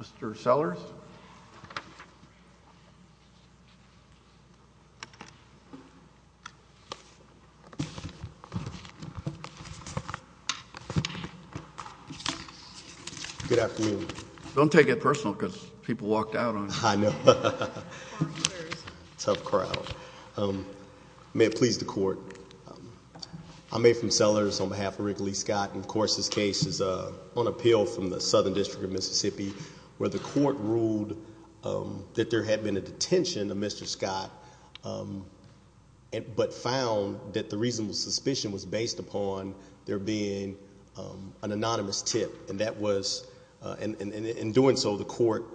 Mr. Sellers. Good afternoon. Don't take it personal because people walked out on you. I know. Tough crowd. May it please the court. I'm A. Phil Sellers on behalf of Rickey Scott. And of course, this case is on appeal from the Southern District of Mississippi, where the court ruled that there had been a detention of Mr. Scott, but found that the reasonable suspicion was based upon there being an anonymous tip. And that was in doing so, the court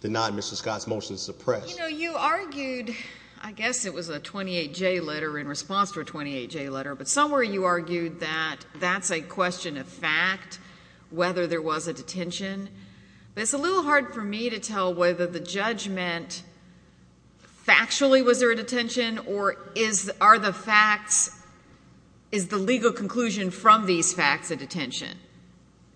denied Mr. Scott's motion to suppress. You argued, I guess it was a 28 J letter in response to a 28 J letter. But somewhere you argued that that's a question of fact, whether there was a detention. But it's a little hard for me to tell whether the judgment factually was there a detention or is are the facts, is the legal conclusion from these facts a detention?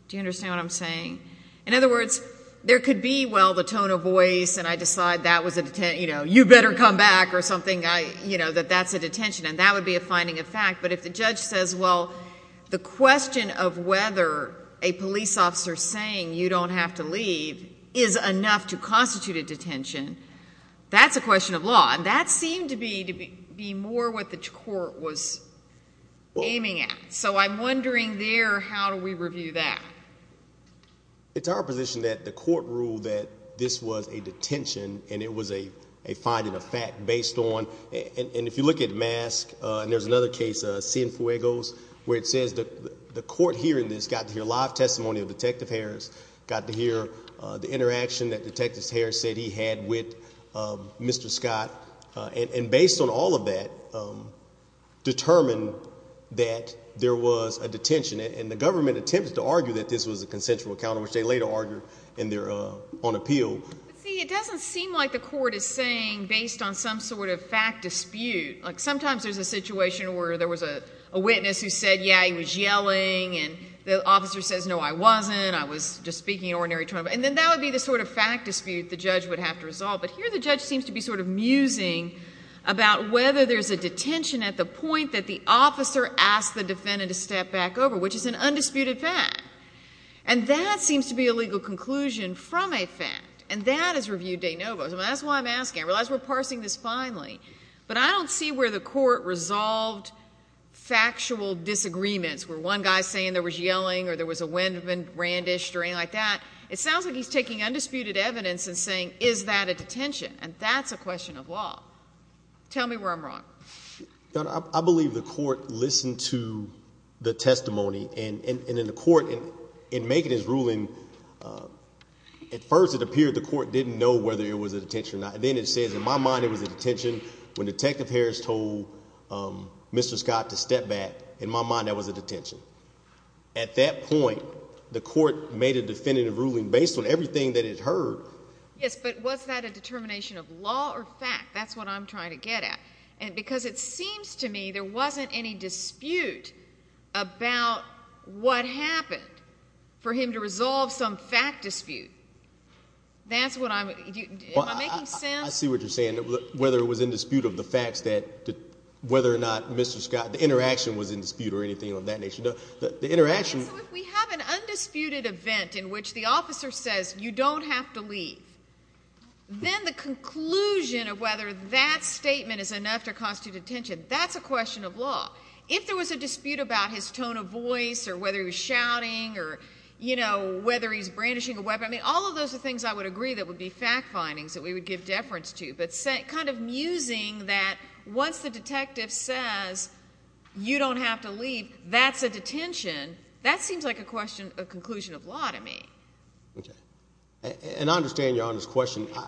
Do you understand what I'm saying? In other words, there could be, well, the tone of voice and I decide that was a, you know, you better come back or something. I, you know, that that's a detention and that would be a finding of fact. But if the judge says, well, the question of whether a police officer saying you don't have to leave is enough to constitute a detention. That's a question of law, and that seemed to be to be more what the court was aiming at. So I'm wondering there, how do we review that? It's our position that the court ruled that this was a detention and it was a a finding of fact based on and if you look at mask and there's another case, a scene where it goes where it says that the court hearing this got to hear live testimony of Detective Harris, got to hear the interaction that detectives here said he had with Mr. Scott. And based on all of that, determine that there was a detention and the government attempted to argue that this was a consensual account, which they later argued in their own appeal. See, it doesn't seem like the court is saying based on some sort of fact dispute, like sometimes there's a situation where there was a witness who said, yeah, he was yelling and the officer says, no, I wasn't. I was just speaking in ordinary term and then that would be the sort of fact dispute the judge would have to resolve. But here the judge seems to be sort of musing about whether there's a detention at the point that the officer asked the defendant to step back over, which is an undisputed fact. And that seems to be a legal conclusion from a fact. And that is reviewed de novo. That's why I'm asking. I realize we're parsing this finally, but I don't see where the court resolved factual disagreements where one guy saying there was yelling or there was a wind and brandished or anything like that. It sounds like he's taking undisputed evidence and saying, is that a detention? And that's a question of law. Tell me where I'm wrong. I believe the court listened to the testimony and in the court in making his ruling. At first, it appeared the court didn't know whether it was a detention. Then it says, in my mind, it was a detention when Detective Harris told Mr. Scott to step back. In my mind, that was a detention. At that point, the court made a definitive ruling based on everything that it heard. Yes, but was that a determination of law or fact? That's what I'm trying to get at. And because it seems to me there wasn't any dispute about what happened for him to resolve some fact dispute. That's what I'm – am I making sense? I see what you're saying, whether it was in dispute of the facts that – whether or not Mr. Scott – the interaction was in dispute or anything of that nature. The interaction – So if we have an undisputed event in which the officer says you don't have to leave, then the conclusion of whether that statement is enough to constitute detention, that's a question of law. If there was a dispute about his tone of voice or whether he was shouting or, you know, whether he's brandishing a weapon, I mean, all of those are things I would agree that would be fact findings that we would give deference to. But kind of musing that once the detective says you don't have to leave, that's a detention, that seems like a question – a conclusion of law to me. Okay. And I understand Your Honor's question. I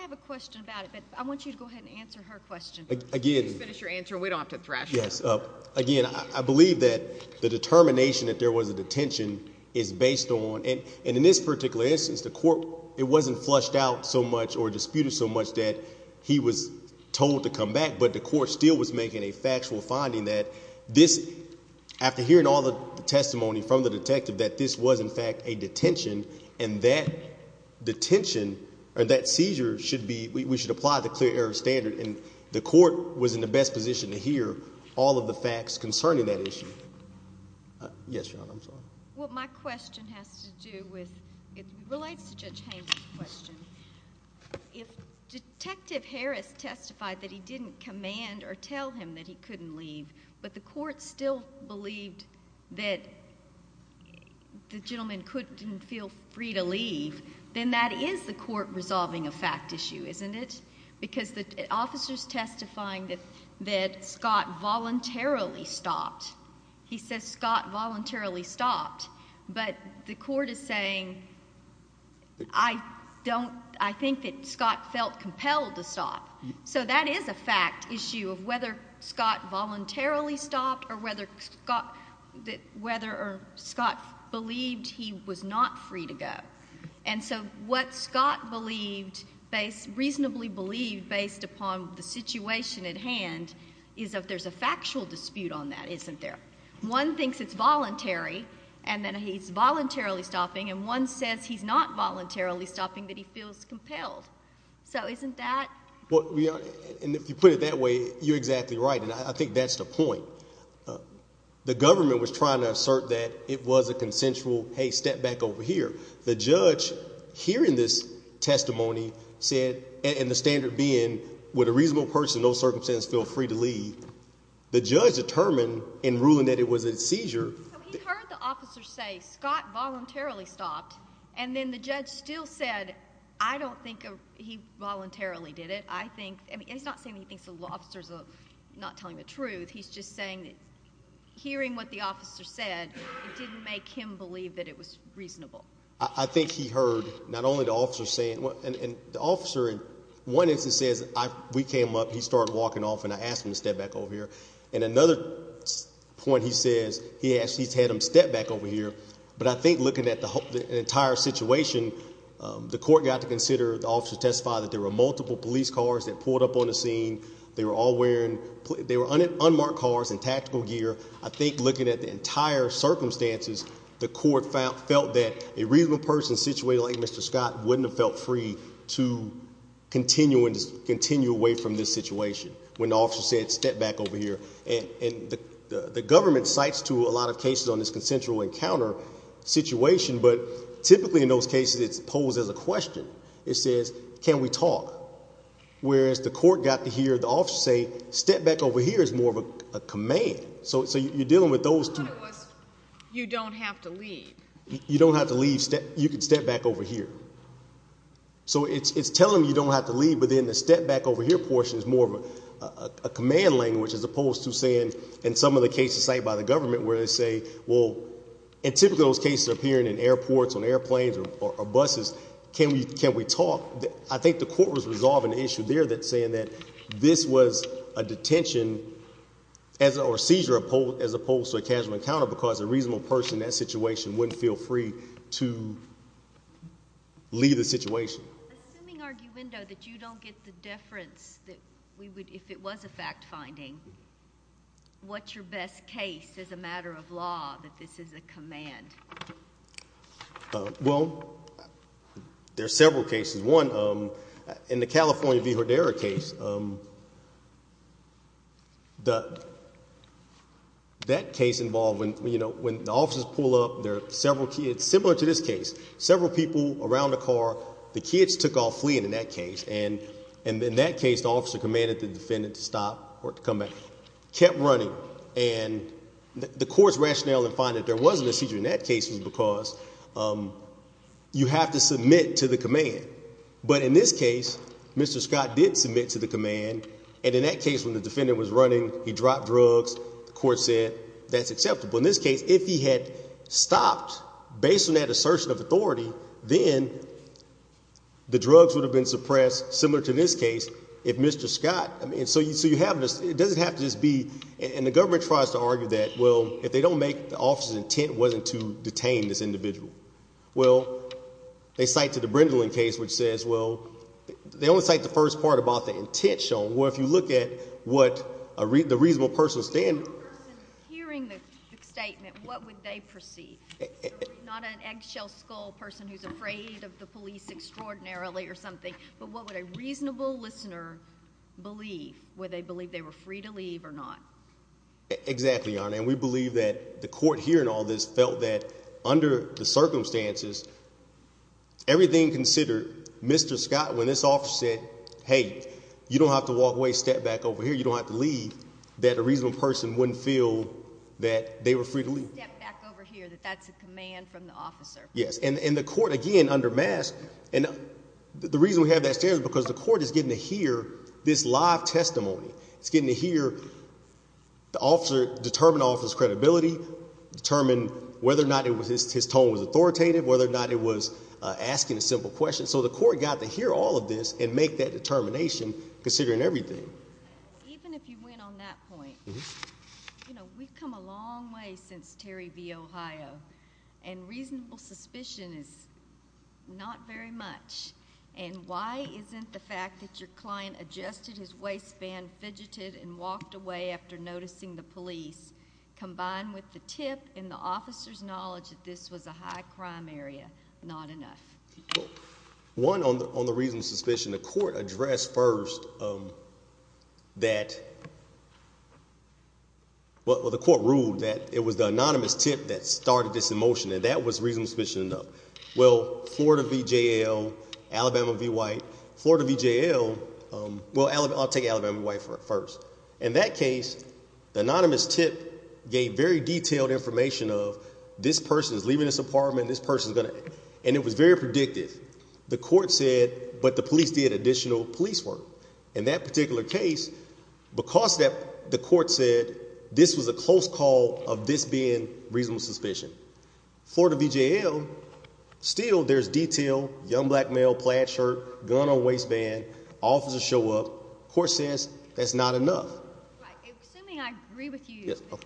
have a question about it, but I want you to go ahead and answer her question. Again – Just finish your answer and we don't have to thrash it. Yes. Again, I believe that the determination that there was a detention is based on – and in this particular instance, the court – it wasn't flushed out so much or disputed so much that he was told to come back, but the court still was making a factual finding that this – after hearing all the testimony from the detective that this was in fact a detention and that detention or that seizure should be – we should apply the clear error standard. And the court was in the best position to hear all of the facts concerning that issue. Yes, Your Honor. I'm sorry. Well, my question has to do with – it relates to Judge Haines' question. If Detective Harris testified that he didn't command or tell him that he couldn't leave, but the court still believed that the gentleman couldn't – didn't feel free to leave, then that is the court resolving a fact issue, isn't it? Because the officer's testifying that Scott voluntarily stopped. He says Scott voluntarily stopped, but the court is saying, I don't – I think that Scott felt compelled to stop. So that is a fact issue of whether Scott voluntarily stopped or whether Scott believed he was not free to go. And so what Scott believed – reasonably believed based upon the situation at hand is that there's a factual dispute on that, isn't there? One thinks it's voluntary and that he's voluntarily stopping, and one says he's not voluntarily stopping, that he feels compelled. So isn't that – Well, Your Honor, and if you put it that way, you're exactly right, and I think that's the point. The government was trying to assert that it was a consensual, hey, step back over here. The judge, hearing this testimony, said – and the standard being would a reasonable person in those circumstances feel free to leave – the judge determined in ruling that it was a seizure – So he heard the officer say Scott voluntarily stopped, and then the judge still said, I don't think he voluntarily did it. I think – and he's not saying he thinks the officers are not telling the truth. He's just saying that hearing what the officer said, it didn't make him believe that it was reasonable. I think he heard not only the officer saying – and the officer in one instance says we came up, he started walking off, and I asked him to step back over here. And another point he says he actually had him step back over here, but I think looking at the entire situation, the court got to consider – the officer testified that there were multiple police cars that pulled up on the scene. They were all wearing – they were unmarked cars in tactical gear. I think looking at the entire circumstances, the court felt that a reasonable person situated like Mr. Scott wouldn't have felt free to continue away from this situation when the officer said step back over here. And the government cites to a lot of cases on this consensual encounter situation, but typically in those cases it's posed as a question. It says can we talk, whereas the court got to hear the officer say step back over here is more of a command. So you're dealing with those two – The point was you don't have to leave. You don't have to leave. You can step back over here. So it's telling you you don't have to leave, but then the step back over here portion is more of a command language as opposed to saying in some of the cases cited by the government where they say, well, and typically those cases are appearing in airports, on airplanes, or buses. Can we talk? I think the court was resolving the issue there saying that this was a detention or seizure as opposed to a casual encounter because a reasonable person in that situation wouldn't feel free to leave the situation. Assuming, arguendo, that you don't get the deference that we would if it was a fact finding, what's your best case as a matter of law that this is a command? Well, there are several cases. One, in the California v. Herdera case, that case involved when the officers pull up, there are several kids, similar to this case, several people around a car. The kids took off fleeing in that case, and in that case the officer commanded the defendant to stop or to come back. Kept running, and the court's rationale in finding that there was a seizure in that case was because you have to submit to the command. But in this case, Mr. Scott did submit to the command, and in that case when the defendant was running, he dropped drugs. The court said that's acceptable. In this case, if he had stopped based on that assertion of authority, then the drugs would have been suppressed, similar to this case, if Mr. Scott, so you have this, it doesn't have to just be, and the government tries to argue that, well, if they don't make, the officer's intent wasn't to detain this individual. Well, they cite to the Brindlin case, which says, well, they only cite the first part about the intent shown, where if you look at what the reasonable person's standard. Hearing the statement, what would they perceive? Not an eggshell skull person who's afraid of the police extraordinarily or something, but what would a reasonable listener believe? Would they believe they were free to leave or not? Exactly, Your Honor, and we believe that the court hearing all this felt that under the circumstances, everything considered, Mr. Scott, when this officer said, hey, you don't have to walk away, step back over here, you don't have to leave, that a reasonable person wouldn't feel that they were free to leave. Step back over here, that that's a command from the officer. Yes, and the court, again, under mask, and the reason we have that standard is because the court is getting to hear this live testimony. It's getting to hear the officer determine the officer's credibility, determine whether or not his tone was authoritative, whether or not it was asking a simple question. So the court got to hear all of this and make that determination considering everything. Even if you went on that point, you know, we've come a long way since Terry v. Ohio, and reasonable suspicion is not very much, and why isn't the fact that your client adjusted his waistband, fidgeted, and walked away after noticing the police, combined with the tip and the officer's knowledge that this was a high-crime area, not enough? One, on the reasonable suspicion, the court addressed first that, well, the court ruled that it was the anonymous tip that started this emotion, and that was reasonable suspicion enough. Well, Florida v. J.L., Alabama v. White, Florida v. J.L. Well, I'll take Alabama v. White first. In that case, the anonymous tip gave very detailed information of this person is leaving this apartment, this person is going to, and it was very predictive. The court said, but the police did additional police work. In that particular case, because the court said this was a close call of this being reasonable suspicion, Florida v. J.L., still there's detail, young black male, plaid shirt, gun on waistband, officer show up. Court says that's not enough. Right. Assuming I agree with you that the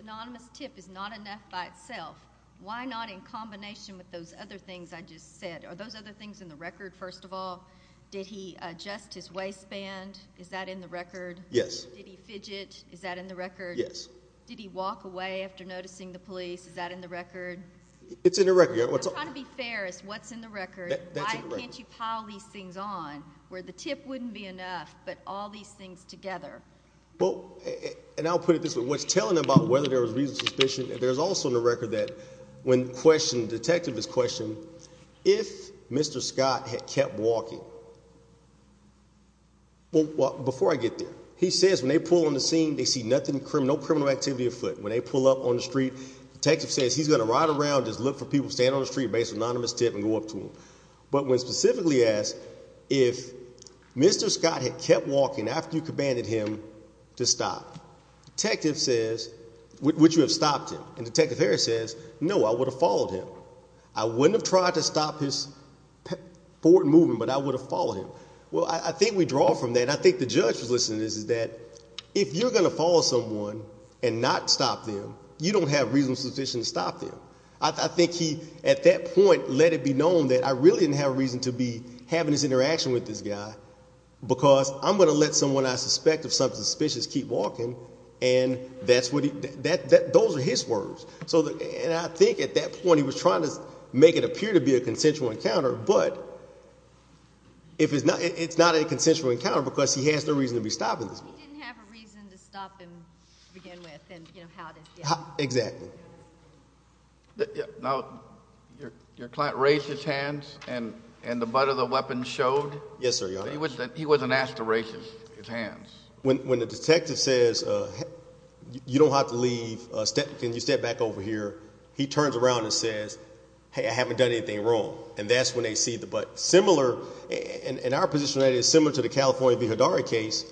anonymous tip is not enough by itself, why not in combination with those other things I just said? Are those other things in the record, first of all? Did he adjust his waistband? Is that in the record? Yes. Did he fidget? Is that in the record? Yes. Did he walk away after noticing the police? Is that in the record? It's in the record. I'm trying to be fair. It's what's in the record. That's in the record. Why can't you pile these things on where the tip wouldn't be enough, but all these things together? Well, and I'll put it this way. What's telling about whether there was reasonable suspicion, there's also in the record that when the question, detective's question, if Mr. Scott had kept walking, before I get there, he says when they pull on the scene, they see no criminal activity afoot. When they pull up on the street, detective says he's going to ride around, just look for people standing on the street based on anonymous tip and go up to them. But when specifically asked if Mr. Scott had kept walking after you commanded him to stop, detective says, would you have stopped him? And detective Harris says, no, I would have followed him. I wouldn't have tried to stop his forward movement, but I would have followed him. Well, I think we draw from that, and I think the judge was listening to this, is that if you're going to follow someone and not stop them, you don't have reasonable suspicion to stop them. I think he, at that point, let it be known that I really didn't have a reason to be having this interaction with this guy, because I'm going to let someone I suspect, if something's suspicious, keep walking, and that's what he – those are his words. And I think, at that point, he was trying to make it appear to be a consensual encounter, but it's not a consensual encounter because he has no reason to be stopping this boy. He didn't have a reason to stop him to begin with. Exactly. Now, your client raised his hands and the butt of the weapon showed? Yes, sir, Your Honor. He wasn't asked to raise his hands. When the detective says, you don't have to leave, can you step back over here, he turns around and says, hey, I haven't done anything wrong, and that's when they see the butt. Similar – and our position on that is similar to the California v. Haddari case.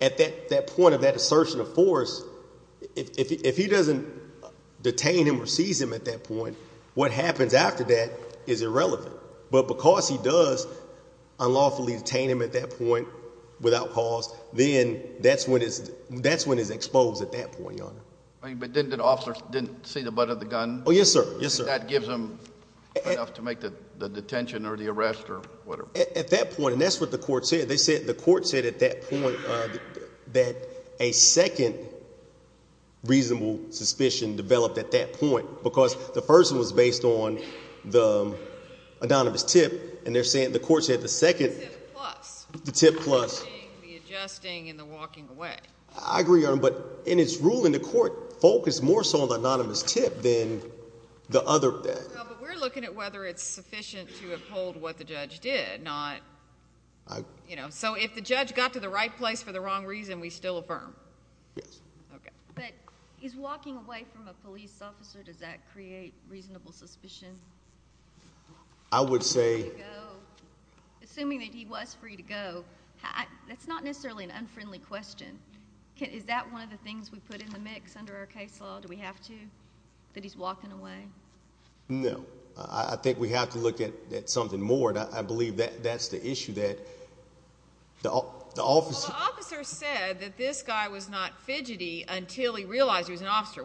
At that point of that assertion of force, if he doesn't detain him or seize him at that point, what happens after that is irrelevant. But because he does unlawfully detain him at that point without cause, then that's when it's exposed at that point, Your Honor. But then the officers didn't see the butt of the gun? Oh, yes, sir. That gives them enough to make the detention or the arrest or whatever? At that point, and that's what the court said, they said the court said at that point that a second reasonable suspicion developed at that point because the first one was based on the anonymous tip, and the court said the second – The tip plus. The tip plus. The adjusting and the walking away. I agree, Your Honor, but in its ruling, the court focused more so on the anonymous tip than the other – No, but we're looking at whether it's sufficient to uphold what the judge did, not – so if the judge got to the right place for the wrong reason, we still affirm. Yes. Okay. But he's walking away from a police officer. Does that create reasonable suspicion? He was free to go. Assuming that he was free to go, that's not necessarily an unfriendly question. Is that one of the things we put in the mix under our case law? Do we have to, that he's walking away? No. I think we have to look at something more, and I believe that's the issue that the officers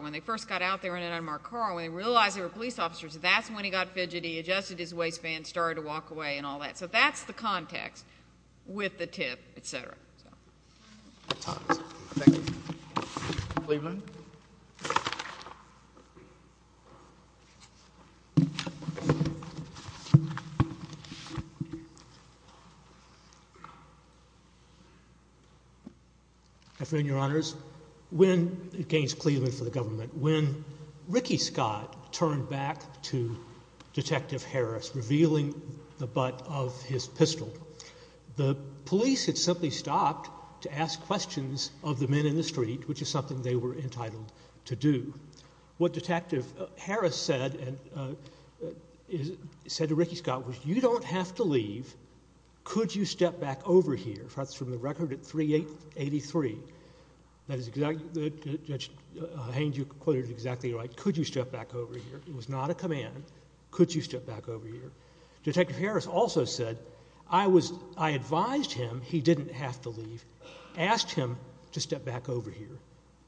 – when they first got out there in an unmarked car, when they realized they were police officers, that's when he got fidgety, adjusted his waistband, started to walk away and all that. So that's the context with the tip, et cetera. Thomas. Thank you. Cleveland. Afternoon, Your Honors. When – again, it's Cleveland for the government. When Ricky Scott turned back to Detective Harris, revealing the butt of his pistol, the police had simply stopped to ask questions of the men in the street, which is something they were entitled to do. What Detective Harris said to Ricky Scott was, you don't have to leave. Could you step back over here? That's from the record at 383. That is – Judge Haines, you quoted it exactly right. Could you step back over here? It was not a command. Could you step back over here? Detective Harris also said, I advised him he didn't have to leave, asked him to step back over here.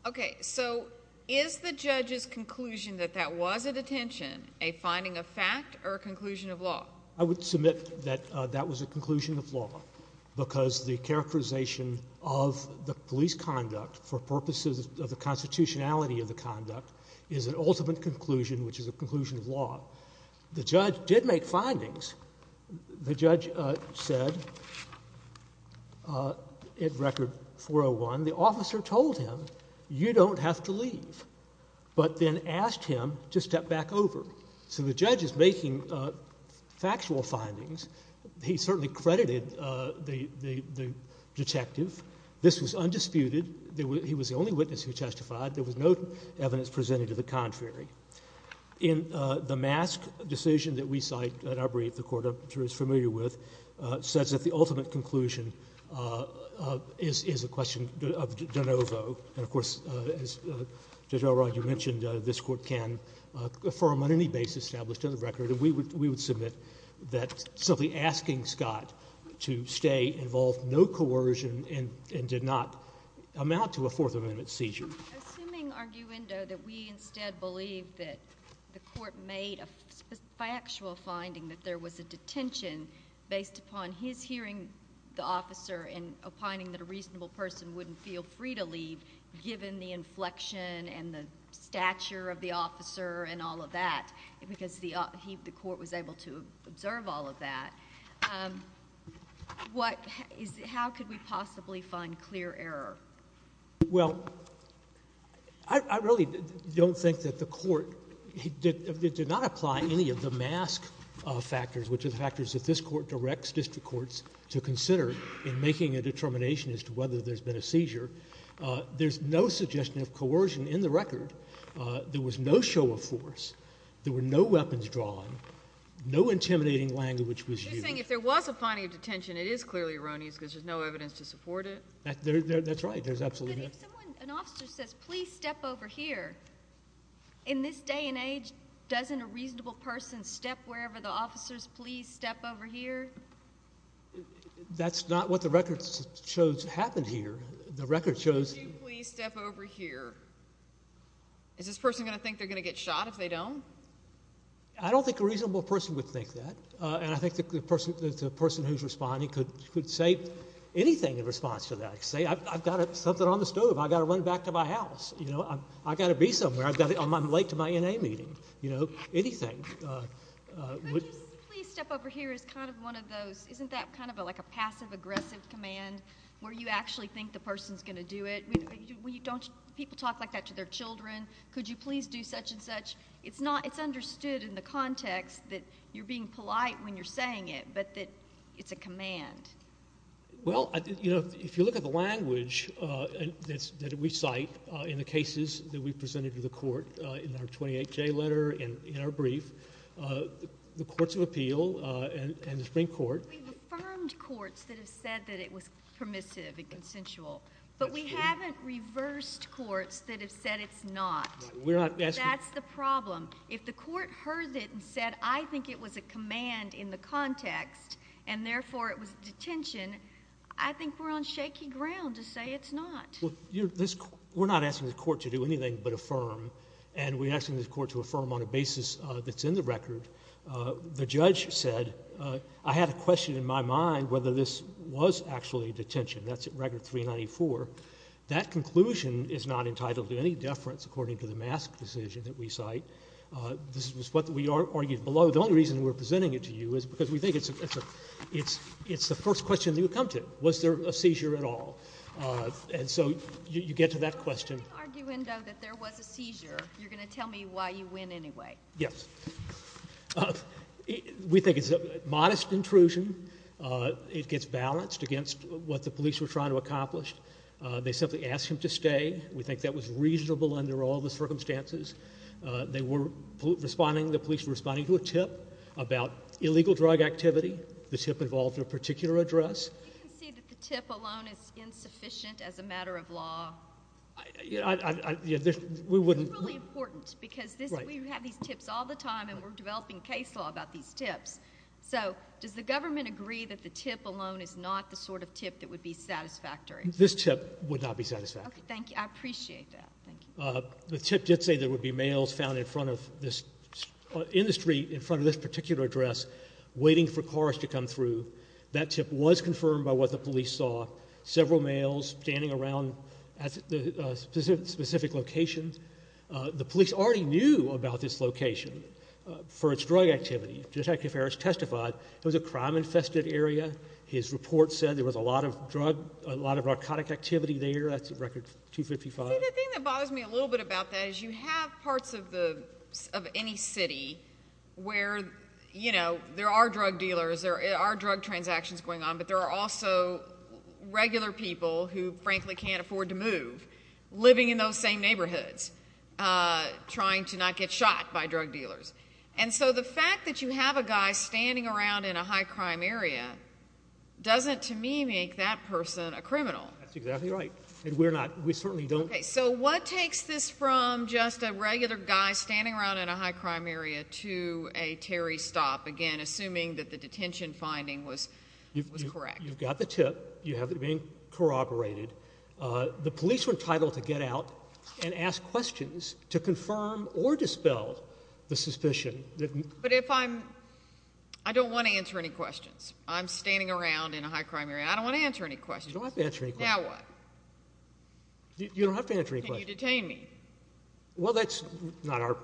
Okay. So is the judge's conclusion that that was a detention a finding of fact or a conclusion of law? I would submit that that was a conclusion of law because the characterization of the police conduct for purposes of the constitutionality of the conduct is an ultimate conclusion, which is a conclusion of law. The judge did make findings. The judge said, at record 401, the officer told him, you don't have to leave, but then asked him to step back over. So the judge is making factual findings. He certainly credited the detective. This was undisputed. He was the only witness who testified. There was no evidence presented to the contrary. In the mask decision that we cite in our brief, the Court, I'm sure, is familiar with, says that the ultimate conclusion is a question of de novo. And, of course, as Judge Elrod, you mentioned, this Court can affirm on any basis established in the record, and we would submit that simply asking Scott to stay involved no coercion and did not amount to a Fourth Amendment seizure. Assuming, arguendo, that we instead believe that the Court made a factual finding that there was a detention based upon his hearing the officer and opining that a reasonable person wouldn't feel free to leave given the inflection and the stature of the officer and all of that because the Court was able to observe all of that, how could we possibly find clear error? Well, I really don't think that the Court did not apply any of the mask factors, which are the factors that this Court directs district courts to consider in making a determination as to whether there's been a seizure. There's no suggestion of coercion in the record. There was no show of force. There were no weapons drawn. No intimidating language was used. You're saying if there was a finding of detention, it is clearly erroneous because there's no evidence to support it? That's right. There's absolutely no evidence. But if an officer says, please step over here, in this day and age, doesn't a reasonable person step wherever the officer says, please step over here? That's not what the record shows happened here. The record shows... Could you please step over here? Is this person going to think they're going to get shot if they don't? I don't think a reasonable person would think that, and I think the person who's responding could say anything in response to that. Say, I've got something on the stove. I've got to run back to my house. I've got to be somewhere. I'm late to my N.A. meeting. Anything. Could you please step over here is kind of one of those, isn't that kind of like a passive-aggressive command where you actually think the person's going to do it? People talk like that to their children. Could you please do such and such? It's understood in the context that you're being polite when you're saying it, but that it's a command. Well, if you look at the language that we cite in the cases that we presented to the court in our 28-J letter and in our brief, the courts of appeal and the Supreme Court. We've affirmed courts that have said that it was permissive and consensual, but we haven't reversed courts that have said it's not. That's the problem. If the court heard it and said, I think it was a command in the context and therefore it was detention, I think we're on shaky ground to say it's not. We're not asking the court to do anything but affirm, and we're asking the court to affirm on a basis that's in the record. The judge said, I had a question in my mind whether this was actually detention. That's at Record 394. That conclusion is not entitled to any deference according to the mask decision that we cite. This is what we argued below. The only reason we're presenting it to you is because we think it's the first question you come to. Was there a seizure at all? And so you get to that question. Why would you argue, Endo, that there was a seizure? You're going to tell me why you win anyway. Yes. We think it's a modest intrusion. It gets balanced against what the police were trying to accomplish. They simply asked him to stay. We think that was reasonable under all the circumstances. They were responding, the police were responding to a tip about illegal drug activity. The tip involved a particular address. We can see that the tip alone is insufficient as a matter of law. It's really important because we have these tips all the time, and we're developing case law about these tips. So does the government agree that the tip alone is not the sort of tip that would be satisfactory? This tip would not be satisfactory. Okay, thank you. I appreciate that. The tip did say there would be males found in front of this industry, in front of this particular address, waiting for cars to come through. That tip was confirmed by what the police saw, several males standing around at the specific location. The police already knew about this location for its drug activity. Detective Harris testified it was a crime-infested area. His report said there was a lot of drug, a lot of narcotic activity there. That's a record 255. See, the thing that bothers me a little bit about that is you have parts of any city where, you know, there are drug dealers, there are drug transactions going on, but there are also regular people who, frankly, can't afford to move, living in those same neighborhoods, trying to not get shot by drug dealers. And so the fact that you have a guy standing around in a high-crime area doesn't, to me, make that person a criminal. That's exactly right, and we're not. We certainly don't. Okay, so what takes this from just a regular guy standing around in a high-crime area to a Terry stop, again, assuming that the detention finding was correct? You've got the tip. You have it being corroborated. The police were entitled to get out and ask questions to confirm or dispel the suspicion. But if I'm—I don't want to answer any questions. I'm standing around in a high-crime area. I don't want to answer any questions. You don't have to answer any questions. Now what? You don't have to answer any questions. Can you detain me? Well, that's not our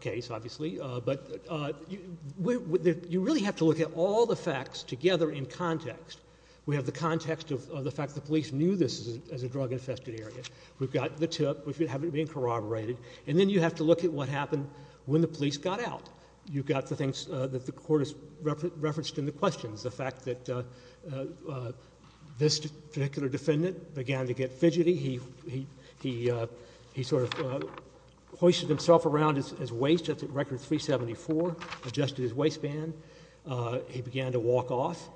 case, obviously, but you really have to look at all the facts together in context. We have the context of the fact the police knew this was a drug-infested area. We've got the tip. We have it being corroborated. And then you have to look at what happened when the police got out. You've got the things that the court has referenced in the questions, the fact that this particular defendant began to get fidgety. He sort of hoisted himself around his waist. That's at Record 374, adjusted his waistband. He began to walk off.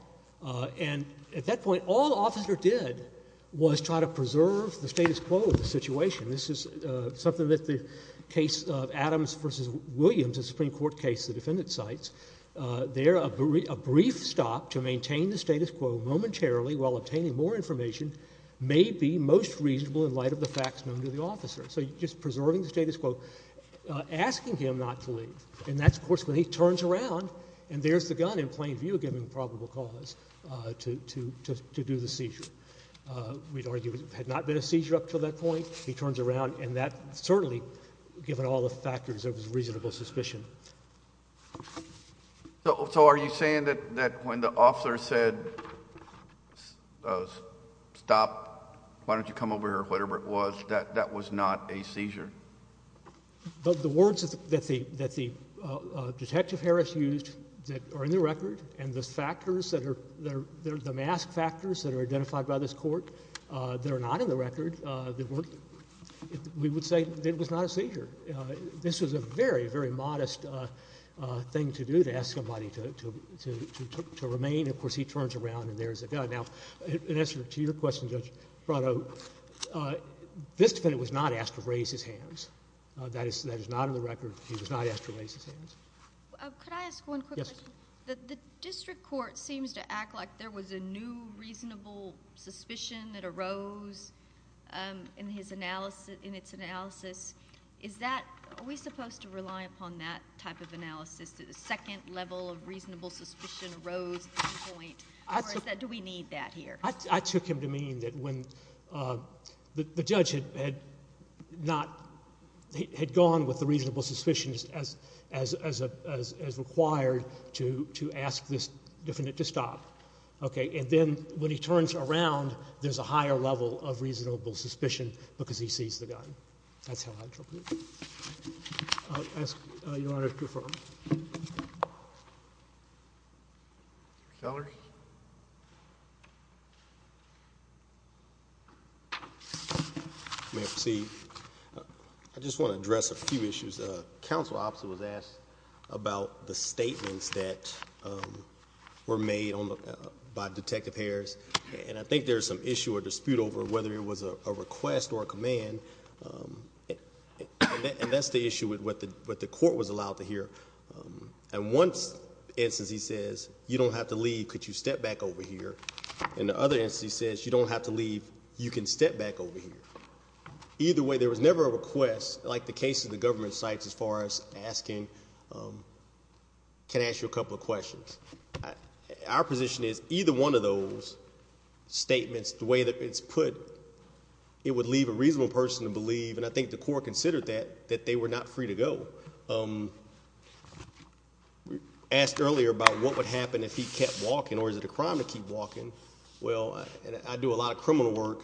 And at that point, all the officer did was try to preserve the status quo of the situation. This is something that the case of Adams v. Williams, a Supreme Court case the defendant cites. There, a brief stop to maintain the status quo momentarily while obtaining more information may be most reasonable in light of the facts known to the officer. So just preserving the status quo, asking him not to leave, and that's, of course, when he turns around and there's the gun in plain view giving probable cause to do the seizure. We'd argue it had not been a seizure up until that point. He turns around, and that certainly, given all the factors, there was reasonable suspicion. So are you saying that when the officer said stop, why don't you come over here, whatever it was, that that was not a seizure? The words that the Detective Harris used that are in the record, and the mask factors that are identified by this court that are not in the record, we would say it was not a seizure. This was a very, very modest thing to do to ask somebody to remain. Of course, he turns around and there's a gun. Now, in answer to your question, Judge Prado, this defendant was not asked to raise his hands. That is not in the record. He was not asked to raise his hands. Could I ask one quick question? Yes. The district court seems to act like there was a new reasonable suspicion that arose in its analysis. Are we supposed to rely upon that type of analysis, that a second level of reasonable suspicion arose at this point? Or do we need that here? I took him to mean that when the judge had gone with the reasonable suspicion as required to ask this defendant to stop. Okay. And then when he turns around, there's a higher level of reasonable suspicion because he sees the gun. That's how I interpret it. I'll ask Your Honor to confirm. Keller? May I proceed? I just want to address a few issues. A counsel officer was asked about the statements that were made by Detective Harris. And I think there's some issue or dispute over whether it was a request or a command. And that's the issue with what the court was allowed to hear. And one instance he says, you don't have to leave, could you step back over here? And the other instance he says, you don't have to leave, you can step back over here. Either way, there was never a request, like the case of the government sites as far as asking, can I ask you a couple of questions? Our position is either one of those statements, the way that it's put, it would leave a reasonable person to believe, and I think the court considered that, that they were not free to go. We asked earlier about what would happen if he kept walking, or is it a crime to keep walking? Well, I do a lot of criminal work,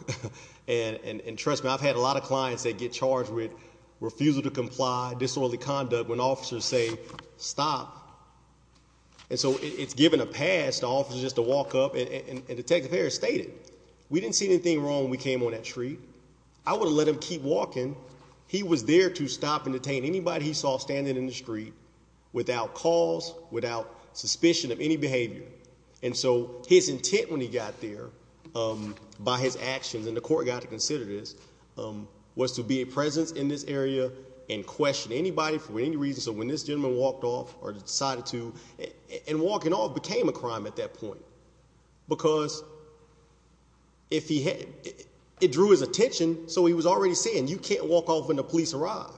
and trust me, I've had a lot of clients that get charged with refusal to comply, disorderly conduct, when officers say, stop. And so it's given a pass to officers to walk up, and Detective Harris stated, we didn't see anything wrong when we came on that street. I would have let him keep walking. He was there to stop and detain anybody he saw standing in the street without cause, without suspicion of any behavior. And so his intent when he got there, by his actions, and the court got to consider this, was to be a presence in this area and question anybody for any reason. So when this gentleman walked off, or decided to, and walking off became a crime at that point. Because it drew his attention, so he was already saying, you can't walk off when the police arrive.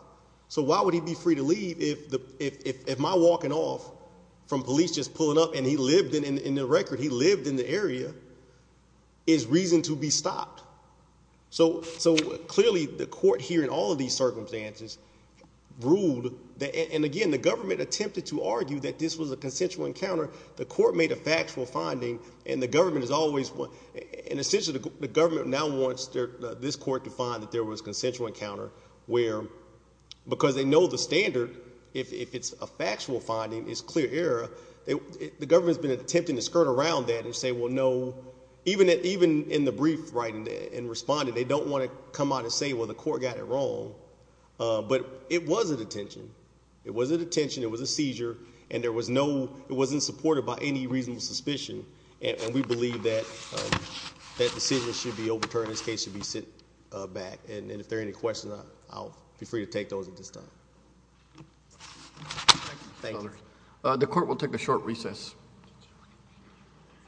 So why would he be free to leave if my walking off from police just pulling up, and he lived in the area, is reason to be stopped. So clearly the court here, in all of these circumstances, ruled, and again, the government attempted to argue that this was a consensual encounter. The court made a factual finding, and the government now wants this court to find that there was a consensual encounter where, because they know the standard, if it's a factual finding, it's clear error, the government's been attempting to skirt around that and say, well, no. Even in the brief writing and responding, they don't want to come out and say, well, the court got it wrong. But it was a detention. It was a detention. It was a seizure. And there was no, it wasn't supported by any reasonable suspicion. And we believe that that decision should be overturned. This case should be sent back. And if there are any questions, I'll be free to take those at this time. Thank you. The court will take a short recess.